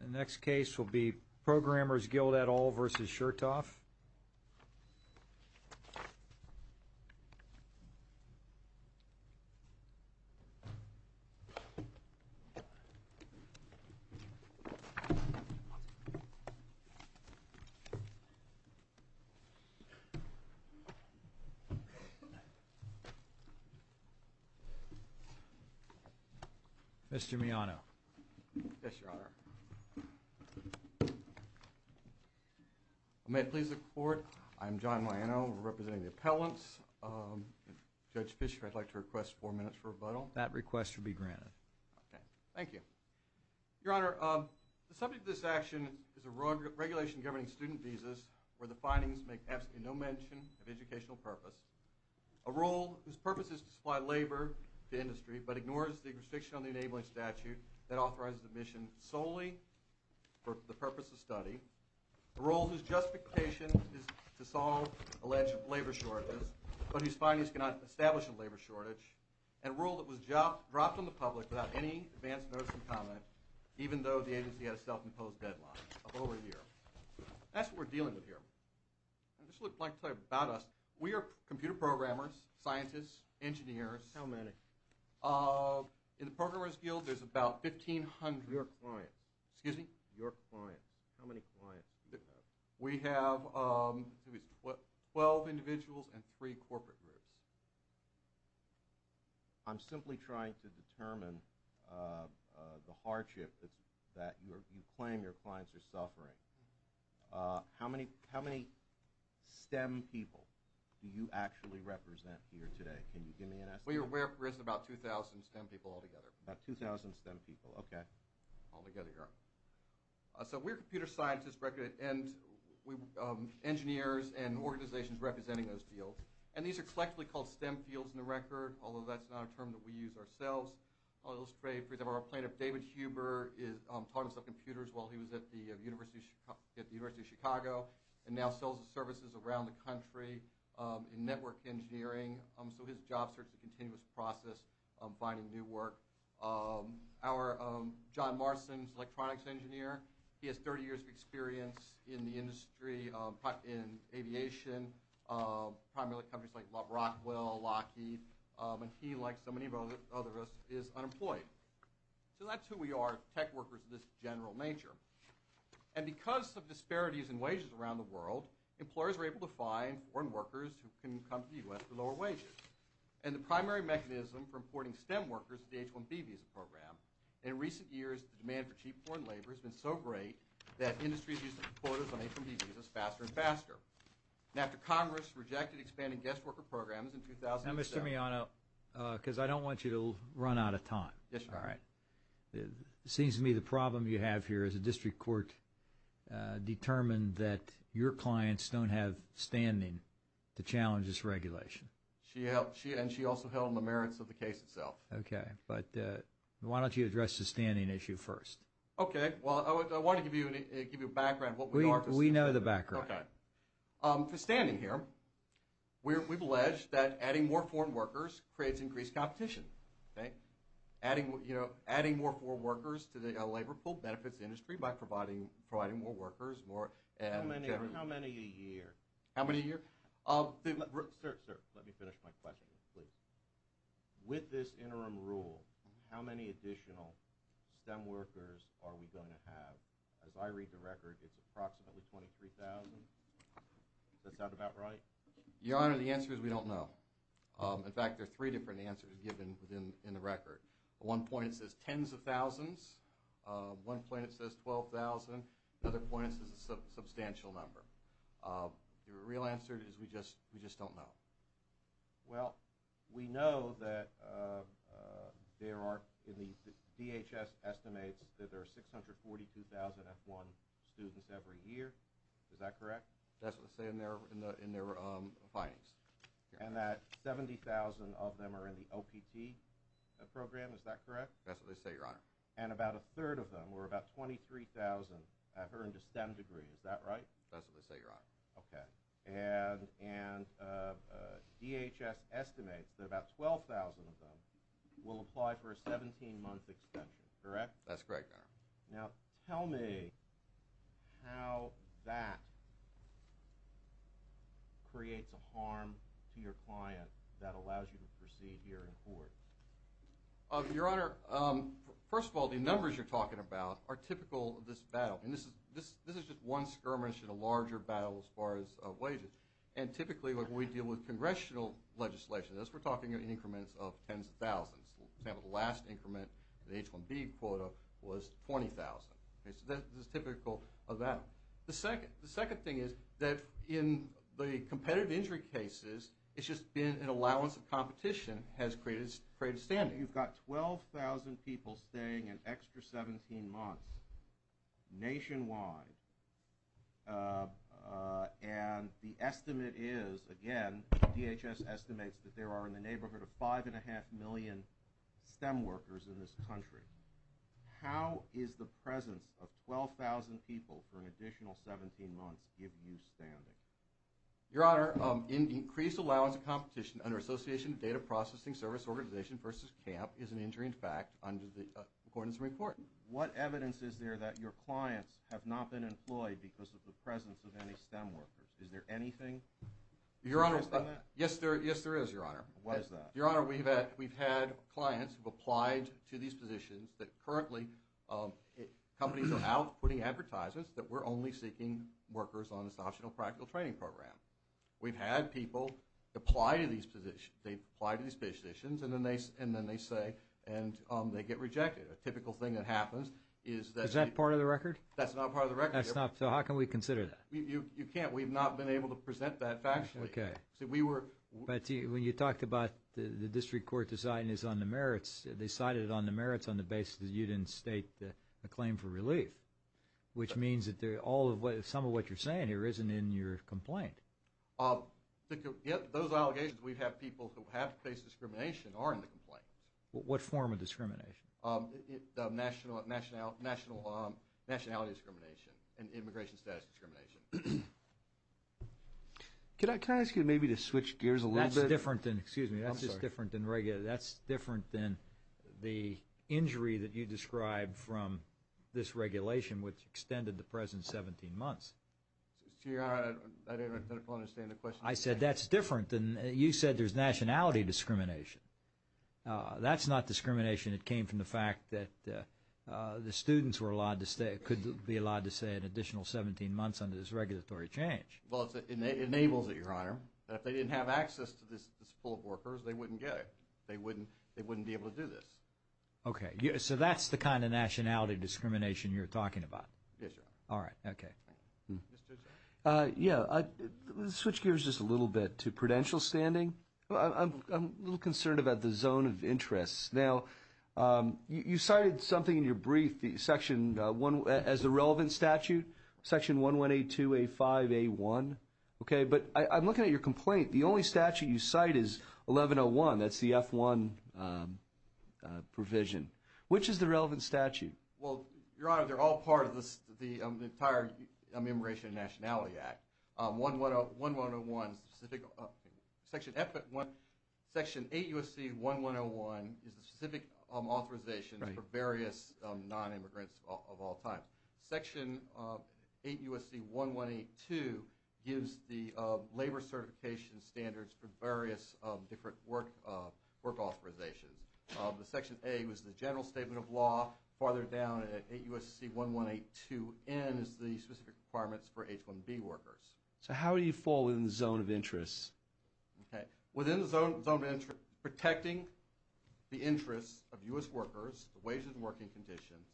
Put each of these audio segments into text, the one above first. The next case will be Programmers Guild et al. versus Shirtoff. Mr. Miyano. Yes, Your Honor. May it please the Court, I'm John Miyano. We're representing the appellants. Judge Fischer, I'd like to request four minutes for rebuttal. That request will be granted. Okay. Thank you. Your Honor, the subject of this action is a regulation governing student visas where the findings make absolutely no mention of educational purpose, a role in the purpose is to supply labor to industry but ignores the restriction on the enabling statute that authorizes admission solely for the purpose of study. A role whose justification is to solve alleged labor shortages, but whose findings cannot establish a labor shortage. And a role that was dropped on the public without any advance notice or comment, even though the agency had a self-imposed deadline of over a year. That's what we're dealing with here. This is what I'd like to tell you about us. We are computer programmers, scientists, engineers. How many? In the Programmers Guild there's about 1,500. Your clients. Excuse me? Your clients. How many clients do you have? We have 12 individuals and 3 corporate groups. I'm simply trying to determine the hardship that you claim your clients are suffering. How many STEM people do you actually represent here today? Can you give me an estimate? We are aware of about 2,000 STEM people altogether. About 2,000 STEM people. Okay. Altogether, Your Honor. So we're computer scientists and engineers and organizations representing those fields. And these are collectively called STEM fields in the record, although that's not a term that we use ourselves. I'll illustrate. For example, our plaintiff, David Huber, taught us about computers while he was at the University of Chicago. And now sells his services around the country in network engineering. So his job serves as a continuous process of finding new work. Our John Marson is an electronics engineer. He has 30 years of experience in the industry, in aviation, primarily companies like Rockwell, Lockheed. And he, like so many of us, is unemployed. So that's who we are, tech workers of this general nature. And because of disparities in wages around the world, employers are able to find foreign workers who can come to the U.S. for lower wages. And the primary mechanism for importing STEM workers is the H-1B visa program. In recent years, the demand for cheap foreign labor has been so great that industries use quotas on H-1B visas faster and faster. After Congress rejected expanding guest worker programs in 2007... Now, Mr. Miano, because I don't want you to run out of time. It seems to me the problem you have here is a district court determined that your clients don't have standing to challenge this regulation. And she also held on the merits of the case itself. Okay. But why don't you address the standing issue first? Okay. Well, I want to give you a background. We know the background. For standing here, we've alleged that adding more foreign workers creates increased competition. Adding more foreign workers to the labor pool benefits the industry by providing more workers. How many a year? How many a year? Sir, let me finish my question, please. With this interim rule, how many additional STEM workers are we going to have? As I read the record, it's approximately 23,000. Is that about right? Your Honor, the answer is we don't know. In fact, there are three different answers given in the record. At one point, it says tens of thousands. At one point, it says 12,000. At another point, it says a substantial number. The real answer is we just don't know. Well, we know that DHS estimates that there are 642,000 F1 students every year. Is that correct? That's what they say in their findings. And that 70,000 of them are in the OPT program. Is that correct? That's what they say, Your Honor. And about a third of them, or about 23,000, have earned a STEM degree. Is that right? That's what they say, Your Honor. Okay. And DHS estimates that about 12,000 of them will apply for a 17-month extension. Correct? That's correct, Your Honor. Now, tell me how that creates a harm to your client that allows you to proceed here in court. Your Honor, first of all, the numbers you're talking about are typical of this battle. And this is just one skirmish in a larger battle as far as wages. And typically, when we deal with congressional legislation, we're talking in increments of tens of thousands. For example, the last increment in the H-1B quota was 20,000. So this is typical of that. The second thing is that in the competitive injury cases, it's just been an allowance of competition has created standing. Now, you've got 12,000 people staying an extra 17 months nationwide. And the estimate is, again, DHS estimates that there are in the neighborhood of 5.5 million STEM workers in this country. How is the presence of 12,000 people for an additional 17 months give you standing? Your Honor, increased allowance of competition under Association of Data Processing Service Organizations versus CAMP is an injury in fact, according to the report. What evidence is there that your clients have not been employed because of the presence of any STEM workers? Is there anything? Your Honor, yes, there is, Your Honor. Your Honor, we've had clients who've applied to these positions that currently companies are out putting advertisements that we're only seeking workers on this optional practical training program. We've had people apply to these positions and then they say and they get rejected. A typical thing that happens is that… Is that part of the record? That's not part of the record. So how can we consider that? You can't. We've not been able to present that factually. Okay. So we were… But when you talked about the district court deciding this on the merits, they cited it on the merits on the basis that you didn't state a claim for relief, which means that some of what you're saying here isn't in your complaint. Those allegations we've had people who have faced discrimination are in the complaint. What form of discrimination? Nationality discrimination and immigration status discrimination. Can I ask you maybe to switch gears a little bit? That's different than… Excuse me. That's just different than… I'm sorry. That's different than the injury that you described from this regulation, which extended the present 17 months. Your Honor, I didn't really understand the question. I said that's different than… You said there's nationality discrimination. That's not discrimination. It came from the fact that the students were allowed to stay, could be allowed to stay an additional 17 months under this regulatory change. Well, it enables it, Your Honor. If they didn't have access to this pool of workers, they wouldn't get it. They wouldn't be able to do this. Okay. So that's the kind of nationality discrimination you're talking about? Yes, Your Honor. All right. Okay. Yeah. Switch gears just a little bit to prudential standing. I'm a little concerned about the zone of interest. Now, you cited something in your brief, Section 1… as a relevant statute, Section 1182A5A1. Okay. But I'm looking at your complaint. The only statute you cite is 1101. That's the F1 provision. Which is the relevant statute? Well, Your Honor, they're all part of the entire Immigration and Nationality Act. 1101 is the specific… Section 8 U.S.C. 1101 is the specific authorization for various non-immigrants of all times. Section 8 U.S.C. 1182 gives the labor certification standards for various different work authorizations. The Section 8 was the general statement of law. Farther down at 8 U.S.C. 1182N is the specific requirements for H-1B workers. So how do you fall within the zone of interest? Okay. Within the zone of interest, protecting the interests of U.S. workers, the wages and working conditions,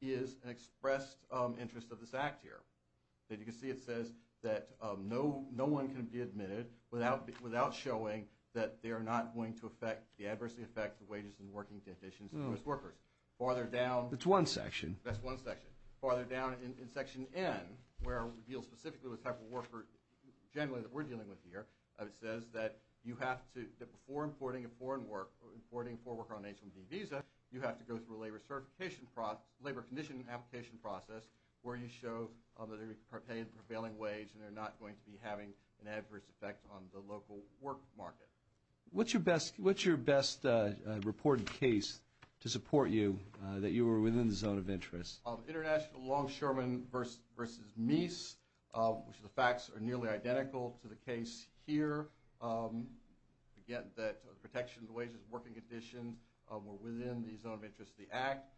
is an expressed interest of this Act here. As you can see, it says that no one can be admitted without showing that they are not going to adversely affect the wages and working conditions of U.S. workers. Farther down… That's one section. That's one section. Farther down in Section N, where it deals specifically with the type of worker generally that we're dealing with here, it says that before importing a foreign worker on an H-1B visa, you have to go through a labor condition application process where you show that they're paying a prevailing wage and they're not going to be having an adverse effect on the local work market. What's your best reported case to support you, that you were within the zone of interest? International Longshoremen v. Meese, which the facts are nearly identical to the case here. Again, that protection of the wages and working conditions were within the zone of interest of the Act.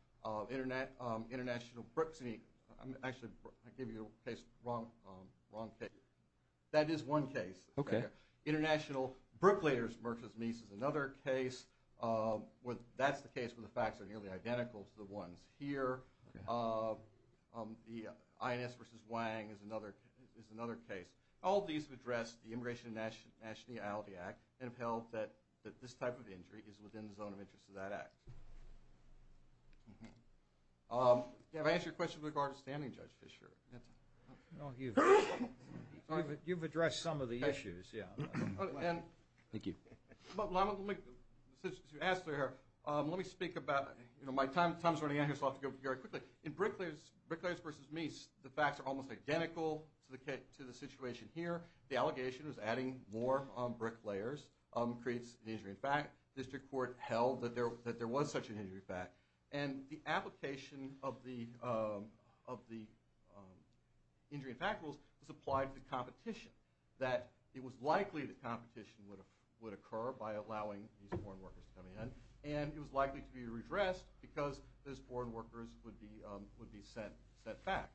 International Brook… Actually, I gave you the wrong case. That is one case. Okay. International Brooklayers v. Meese is another case. That's the case where the facts are nearly identical to the ones here. The INS v. Wang is another case. All these have addressed the Immigration and Nationality Act and have held that this type of injury is within the zone of interest of that Act. Have I answered your question with regard to standing, Judge Fischer? No, you've addressed some of the issues, yeah. Thank you. Since you asked, let me speak about… My time's running out, so I'll have to go very quickly. In Brooklayers v. Meese, the facts are almost identical to the situation here. The allegation was adding more Brooklayers creates an injury. In fact, district court held that there was such an injury fact, and the application of the injury and fact rules was applied to the competition, that it was likely that competition would occur by allowing these foreign workers to come in, and it was likely to be redressed because those foreign workers would be sent back.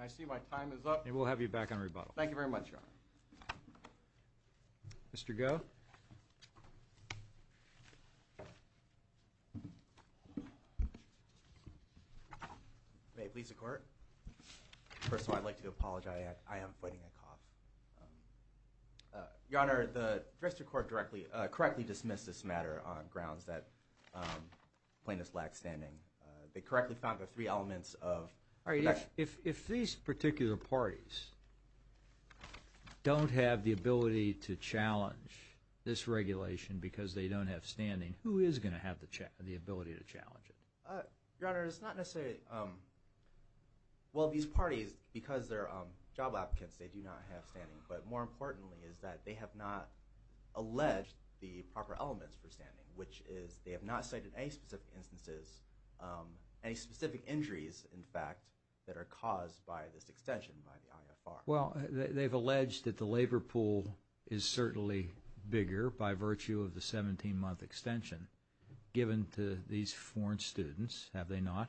I see my time is up. And we'll have you back on rebuttal. Thank you very much, Your Honor. Mr. Goh? Thank you. May it please the Court? First of all, I'd like to apologize. I am fighting a cough. Your Honor, the district court correctly dismissed this matter on grounds that plaintiffs lack standing. They correctly found the three elements of… All right. If these particular parties don't have the ability to challenge this regulation because they don't have standing, who is going to have the ability to challenge it? Your Honor, it's not necessarily – well, these parties, because they're job applicants, they do not have standing. But more importantly is that they have not alleged the proper elements for standing, which is they have not cited any specific instances, any specific injuries, in fact, that are caused by this extension by the IFR. Well, they've alleged that the labor pool is certainly bigger by virtue of the 17-month extension given to these foreign students, have they not?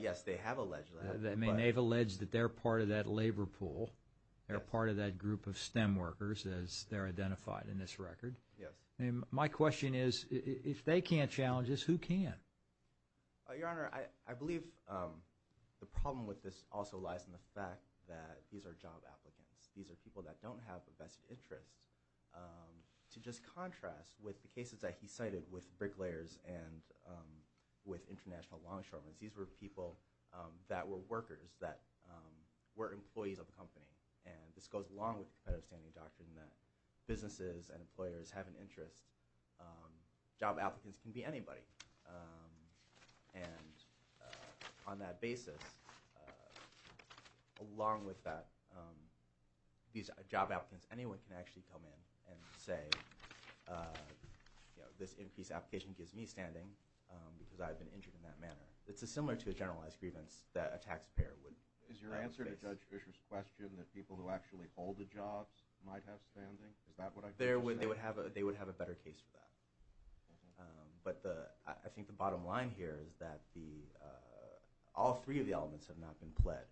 Yes, they have alleged that. I mean, they've alleged that they're part of that labor pool, they're part of that group of STEM workers as they're identified in this record. Yes. My question is, if they can't challenge this, who can? Your Honor, I believe the problem with this also lies in the fact that these are job applicants. These are people that don't have the best interests. To just contrast with the cases that he cited with bricklayers and with international longshoremen, these were people that were workers, that were employees of a company. And this goes along with the competitive standing doctrine that businesses and employers have an interest. Job applicants can be anybody. And on that basis, along with that, these job applicants, anyone can actually come in and say, you know, this increased application gives me standing because I've been injured in that manner. It's similar to a generalized grievance that a taxpayer would grant. Is your answer to Judge Isher's question that people who actually hold the jobs might have standing? Is that what I'm saying? They would have a better case for that. But I think the bottom line here is that all three of the elements have not been pled.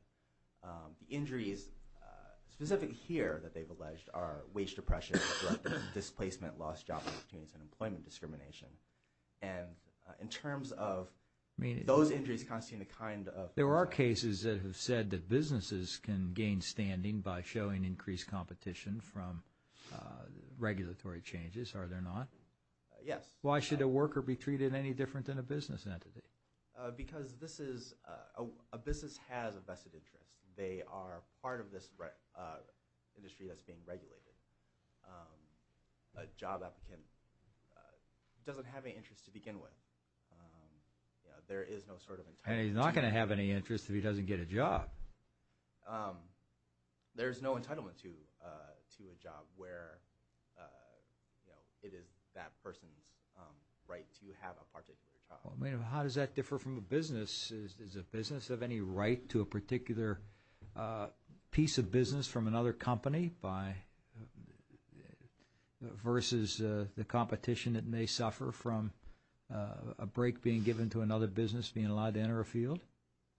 The injuries specific here that they've alleged are wage depression, displacement, lost job opportunities, and employment discrimination. And in terms of those injuries constituting the kind of- There are cases that have said that businesses can gain standing by showing increased competition from regulatory changes. Are there not? Yes. Why should a worker be treated any different than a business entity? Because this is-a business has a vested interest. They are part of this industry that's being regulated. A job applicant doesn't have any interest to begin with. There is no sort of entitlement to- And he's not going to have any interest if he doesn't get a job. There's no entitlement to a job where it is that person's right to have a particular job. How does that differ from a business? Is a business of any right to a particular piece of business from another company by-versus the competition it may suffer from a break being given to another business being allowed to enter a field?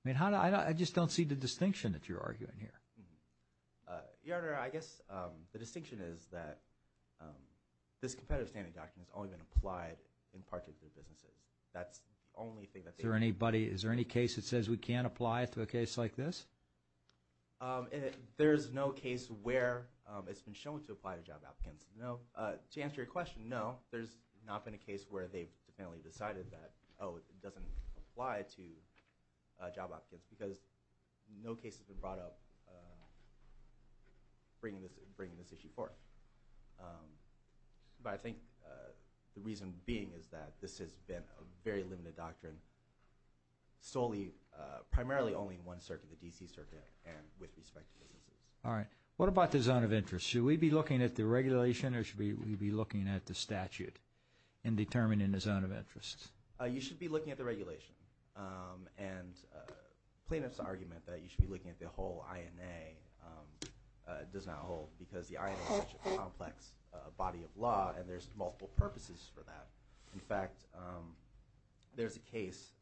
I mean, how do-I just don't see the distinction that you're arguing here. Your Honor, I guess the distinction is that this competitive standing document has only been applied in particular businesses. That's the only thing that's- Is there anybody-is there any case that says we can't apply it to a case like this? There's no case where it's been shown to apply to job applicants. No. To answer your question, no. There's not been a case where they've definitively decided that, oh, it doesn't apply to job applicants because no case has been brought up bringing this issue forth. But I think the reason being is that this has been a very limited doctrine, solely-primarily only in one circuit, the D.C. Circuit, and with respect to businesses. All right. What about the zone of interest? Should we be looking at the regulation or should we be looking at the statute in determining the zone of interest? You should be looking at the regulation. And plaintiff's argument that you should be looking at the whole INA does not hold because the INA is such a complex body of law and there's multiple purposes for that. In fact, there's a case,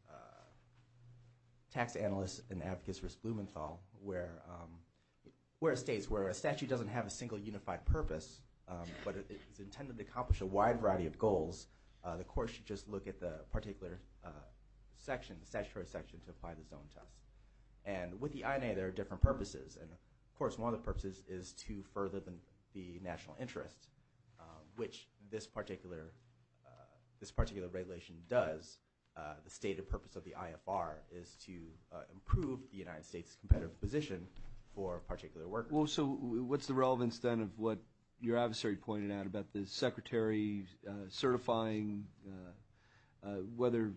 Tax Analyst and Advocates v. Blumenthal, where it states where a statute doesn't have a single unified purpose, but it's intended to accomplish a wide variety of goals, the court should just look at the particular section, the statutory section, to apply the zone to us. And with the INA, there are different purposes. And, of course, one of the purposes is to further the national interest, which this particular regulation does. The stated purpose of the IFR is to improve the United States' competitive position for particular workers. Well, so what's the relevance then of what your adversary pointed out about the secretary certifying whether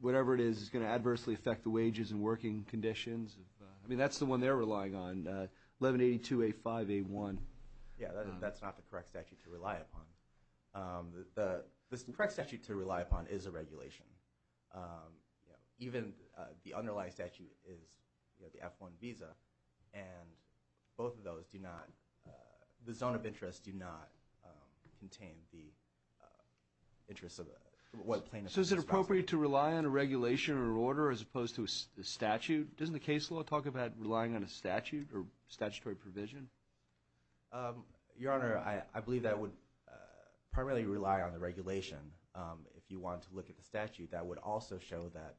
whatever it is is going to adversely affect the wages and working conditions? I mean, that's the one they're relying on, 1182A5A1. Yeah, that's not the correct statute to rely upon. The correct statute to rely upon is a regulation. Even the underlying statute is the F-1 visa, and both of those do not – the zone of interest do not contain the interests of what plaintiff is responsible for. So is it appropriate to rely on a regulation or order as opposed to a statute? Doesn't the case law talk about relying on a statute or statutory provision? Your Honor, I believe that would primarily rely on the regulation. If you want to look at the statute, that would also show that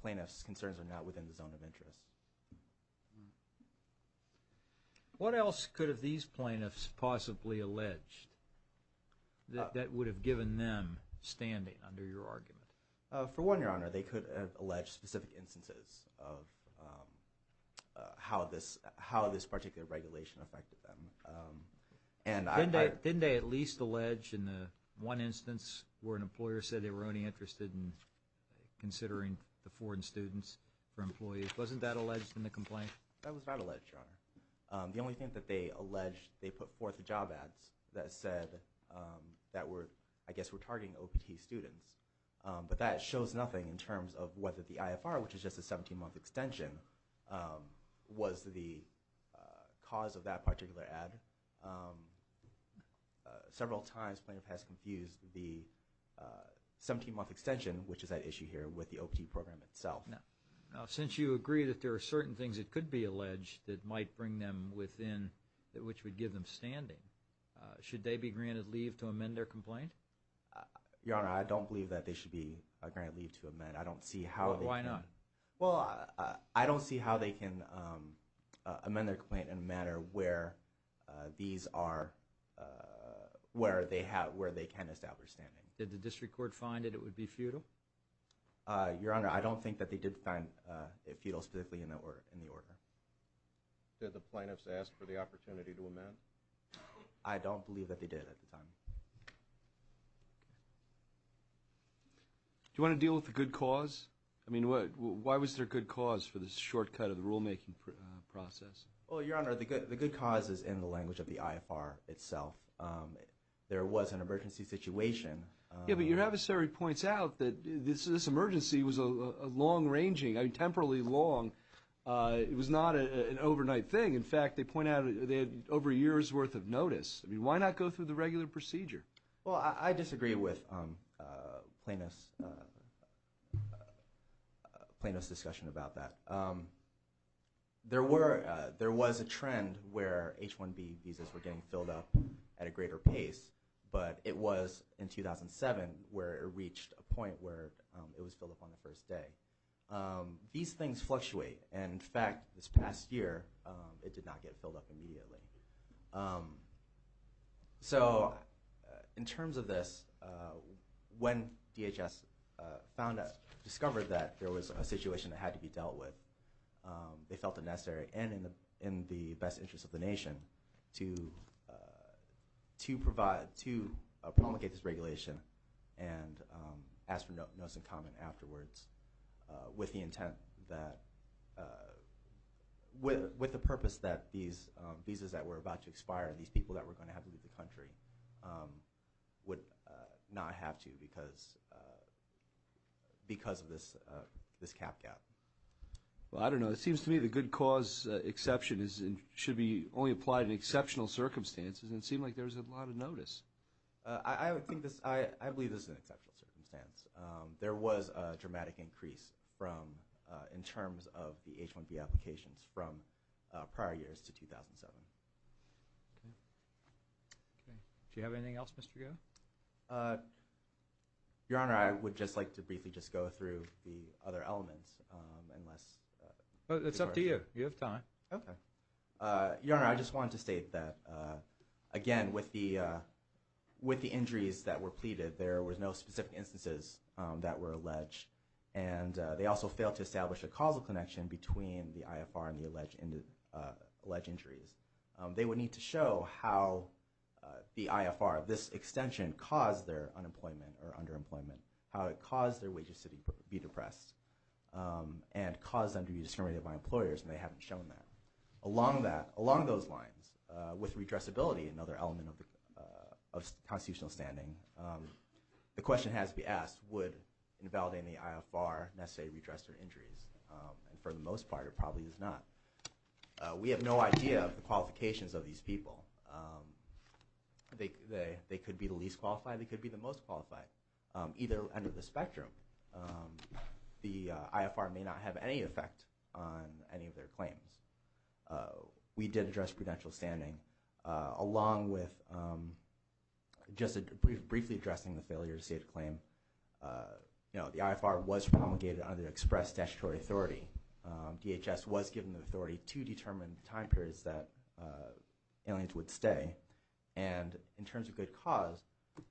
plaintiffs' concerns are not within the zone of interest. What else could have these plaintiffs possibly alleged that would have given them standing under your argument? For one, Your Honor, they could have alleged specific instances of how this particular regulation affected them. Didn't they at least allege in one instance where an employer said they were only interested in considering the foreign students for employees? Wasn't that alleged in the complaint? The only thing that they alleged, they put forth job ads that said that we're – I guess we're targeting OPT students. But that shows nothing in terms of whether the IFR, which is just a 17-month extension, was the cause of that particular ad. Several times plaintiff has confused the 17-month extension, which is at issue here, with the OPT program itself. Now, since you agree that there are certain things that could be alleged that might bring them within – which would give them standing, should they be granted leave to amend their complaint? Your Honor, I don't believe that they should be granted leave to amend. I don't see how they can – Well, why not? Well, I don't see how they can amend their complaint in a manner where these are – where they have – where they can establish standing. Did the district court find that it would be futile? Your Honor, I don't think that they did find it futile specifically in the order. Did the plaintiffs ask for the opportunity to amend? I don't believe that they did at the time. Do you want to deal with the good cause? I mean, why was there a good cause for this shortcut of the rulemaking process? Well, Your Honor, the good cause is in the language of the IFR itself. There was an emergency situation. Yeah, but your adversary points out that this emergency was a long-ranging – I mean, temporally long. It was not an overnight thing. In fact, they point out they had over a year's worth of notice. I mean, why not go through the regular procedure? Well, I disagree with Plaintiff's discussion about that. There were – there was a trend where H-1B visas were getting filled up at a greater pace, but it was in 2007 where it reached a point where it was filled up on the first day. These things fluctuate, and in fact, this past year, it did not get filled up immediately. So in terms of this, when DHS discovered that there was a situation that had to be dealt with, they felt it necessary, and in the best interest of the nation, to promulgate this regulation and ask for notice and comment afterwards with the intent that – with the purpose that these visas that were about to expire and these people that were going to have to leave the country would not have to because of this cap gap. Well, I don't know. It seems to me the good cause exception is – should be only applied in exceptional circumstances, and it seemed like there was a lot of notice. I would think this – I believe this is an exceptional circumstance. There was a dramatic increase from – in terms of the H-1B applications from prior years to 2007. Okay. Do you have anything else, Mr. Goh? Your Honor, I would just like to briefly just go through the other elements, unless – It's up to you. You have time. Okay. Your Honor, I just wanted to state that, again, with the injuries that were pleaded, there were no specific instances that were alleged, and they also failed to establish a causal connection between the IFR and the alleged injuries. They would need to show how the IFR, this extension, caused their unemployment or underemployment, how it caused their wages to be depressed and caused them to be discriminated by employers, and they haven't shown that. Along that – along those lines, with redressability, another element of constitutional standing, the question has to be asked, would invalidating the IFR necessarily redress their injuries? And for the most part, it probably does not. We have no idea of the qualifications of these people. They could be the least qualified. They could be the most qualified. Either end of the spectrum, the IFR may not have any effect on any of their claims. We did address prudential standing. Along with just briefly addressing the failure to state a claim, the IFR was promulgated under express statutory authority. DHS was given the authority to determine time periods that aliens would stay. And in terms of good cause,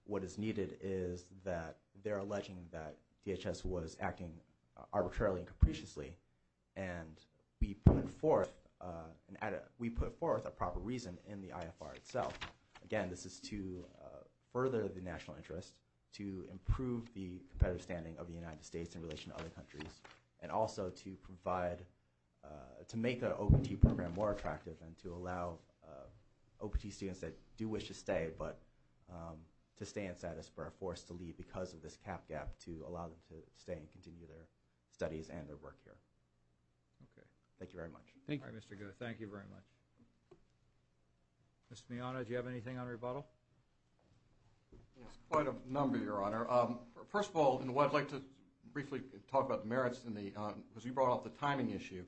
what is needed is that they're alleging that DHS was acting arbitrarily and capriciously, and we put forth a proper reason in the IFR itself. Again, this is to further the national interest, to improve the competitive standing of the United States in relation to other countries, and also to make the OPT program more attractive and to allow OPT students that do wish to stay, but to stay in status, but are forced to leave because of this cap gap, to allow them to stay and continue their studies and their work here. Thank you very much. Thank you, Mr. Goh. Thank you very much. Mr. Miano, do you have anything on rebuttal? Yes, quite a number, Your Honor. First of all, I'd like to briefly talk about the merits, because you brought up the timing issue.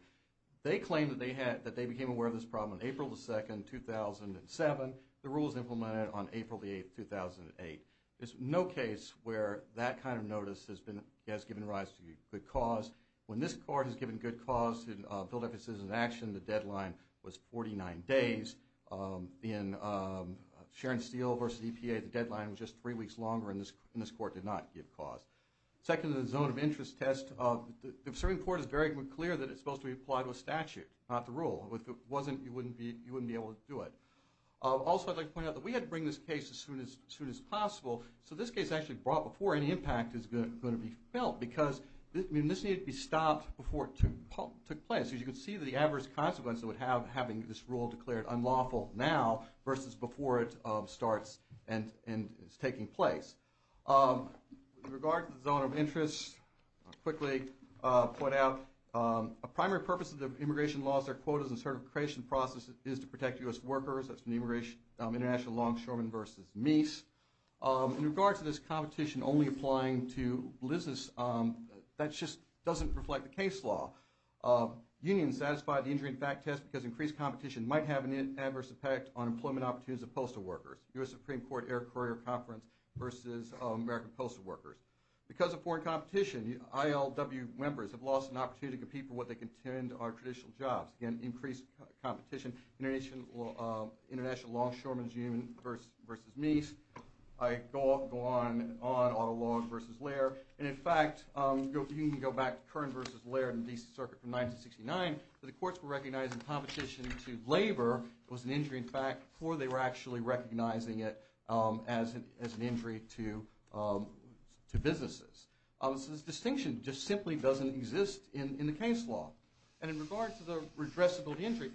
They claim that they became aware of this problem on April 2, 2007. The rule was implemented on April 8, 2008. There's no case where that kind of notice has given rise to good cause. When this Court has given good cause to build up its citizen action, the deadline was 49 days. In Sharon Steele v. EPA, the deadline was just three weeks longer, and this Court did not give cause. Second, the zone of interest test. The serving court is very clear that it's supposed to be applied with statute, not the rule. If it wasn't, you wouldn't be able to do it. Also, I'd like to point out that we had to bring this case as soon as possible, so this case actually brought before any impact is going to be felt, because this needed to be stopped before it took place. As you can see, the adverse consequences would have having this rule declared unlawful now versus before it starts and is taking place. With regard to the zone of interest, I'll quickly point out, a primary purpose of the immigration laws, their quotas, and certification process is to protect U.S. workers. That's from the international law in Sherman v. Meese. In regard to this competition only applying to business, that just doesn't reflect the case law. Unions satisfied the injury and fact test because increased competition might have an adverse effect on employment opportunities of postal workers. U.S. Supreme Court Air Courier Conference versus American postal workers. Because of foreign competition, ILW members have lost an opportunity to compete for what they contend are traditional jobs. Again, increased competition. International law, Sherman v. Meese. I go on and on, Otter Law v. Lair. And in fact, you can go back to Kern v. Lair in the D.C. Circuit from 1969, where the courts were recognizing competition to labor was an injury in fact before they were actually recognizing it as an injury to businesses. This distinction just simply doesn't exist in the case law. And in regard to the redressable injury,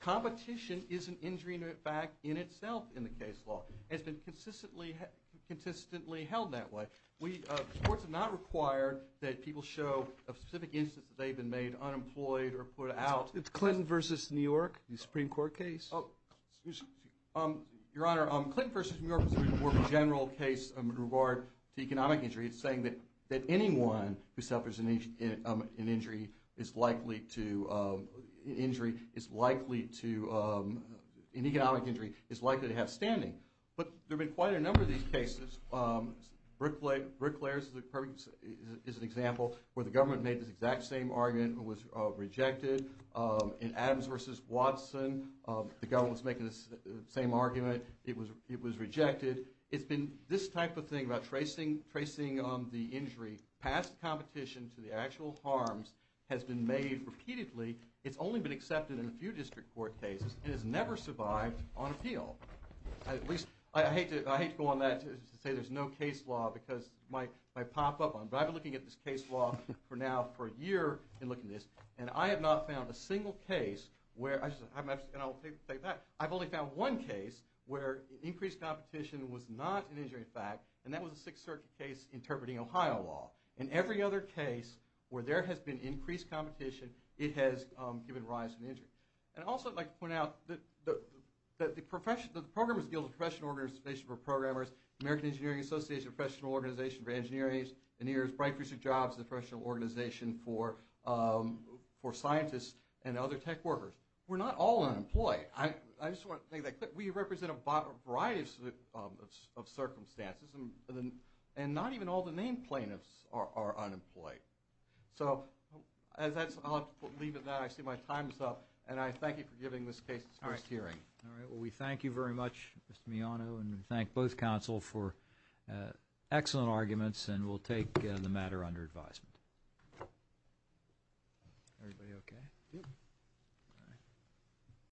competition is an injury in fact in itself in the case law. It's been consistently held that way. The courts have not required that people show a specific instance that they've been made unemployed or put out. It's Clinton v. New York, the Supreme Court case. Your Honor, Clinton v. New York was the Supreme Court general case in regard to economic injury. It's saying that anyone who suffers an injury is likely to have standing. But there have been quite a number of these cases. Bricklayers is an example where the government made this exact same argument and was rejected. In Adams v. Watson, the government was making the same argument. It was rejected. It's been this type of thing about tracing the injury past competition to the actual harms has been made repeatedly. It's only been accepted in a few district court cases and has never survived on appeal. At least, I hate to go on that to say there's no case law because my pop-up, but I've been looking at this case law for now for a year and looking at this, and I have not found a single case where, and I'll take that, but I've only found one case where increased competition was not an injury in fact, and that was a Sixth Circuit case interpreting Ohio law. In every other case where there has been increased competition, it has given rise to an injury. And I'd also like to point out that the Programmers Guild, the Professional Organization for Programmers, the American Engineering Association, the Professional Organization for Engineering, the New Yorker's Bright Research Jobs, the Professional Organization for Scientists, and other tech workers were not all unemployed. I just want to make that clear. We represent a variety of circumstances, and not even all the named plaintiffs are unemployed. So I'll leave it there. I see my time is up, and I thank you for giving this case its first hearing. All right. Well, we thank you very much, Mr. Miano, and we thank both counsel for excellent arguments, and we'll take the matter under advisement. Everybody okay? Yep. All right.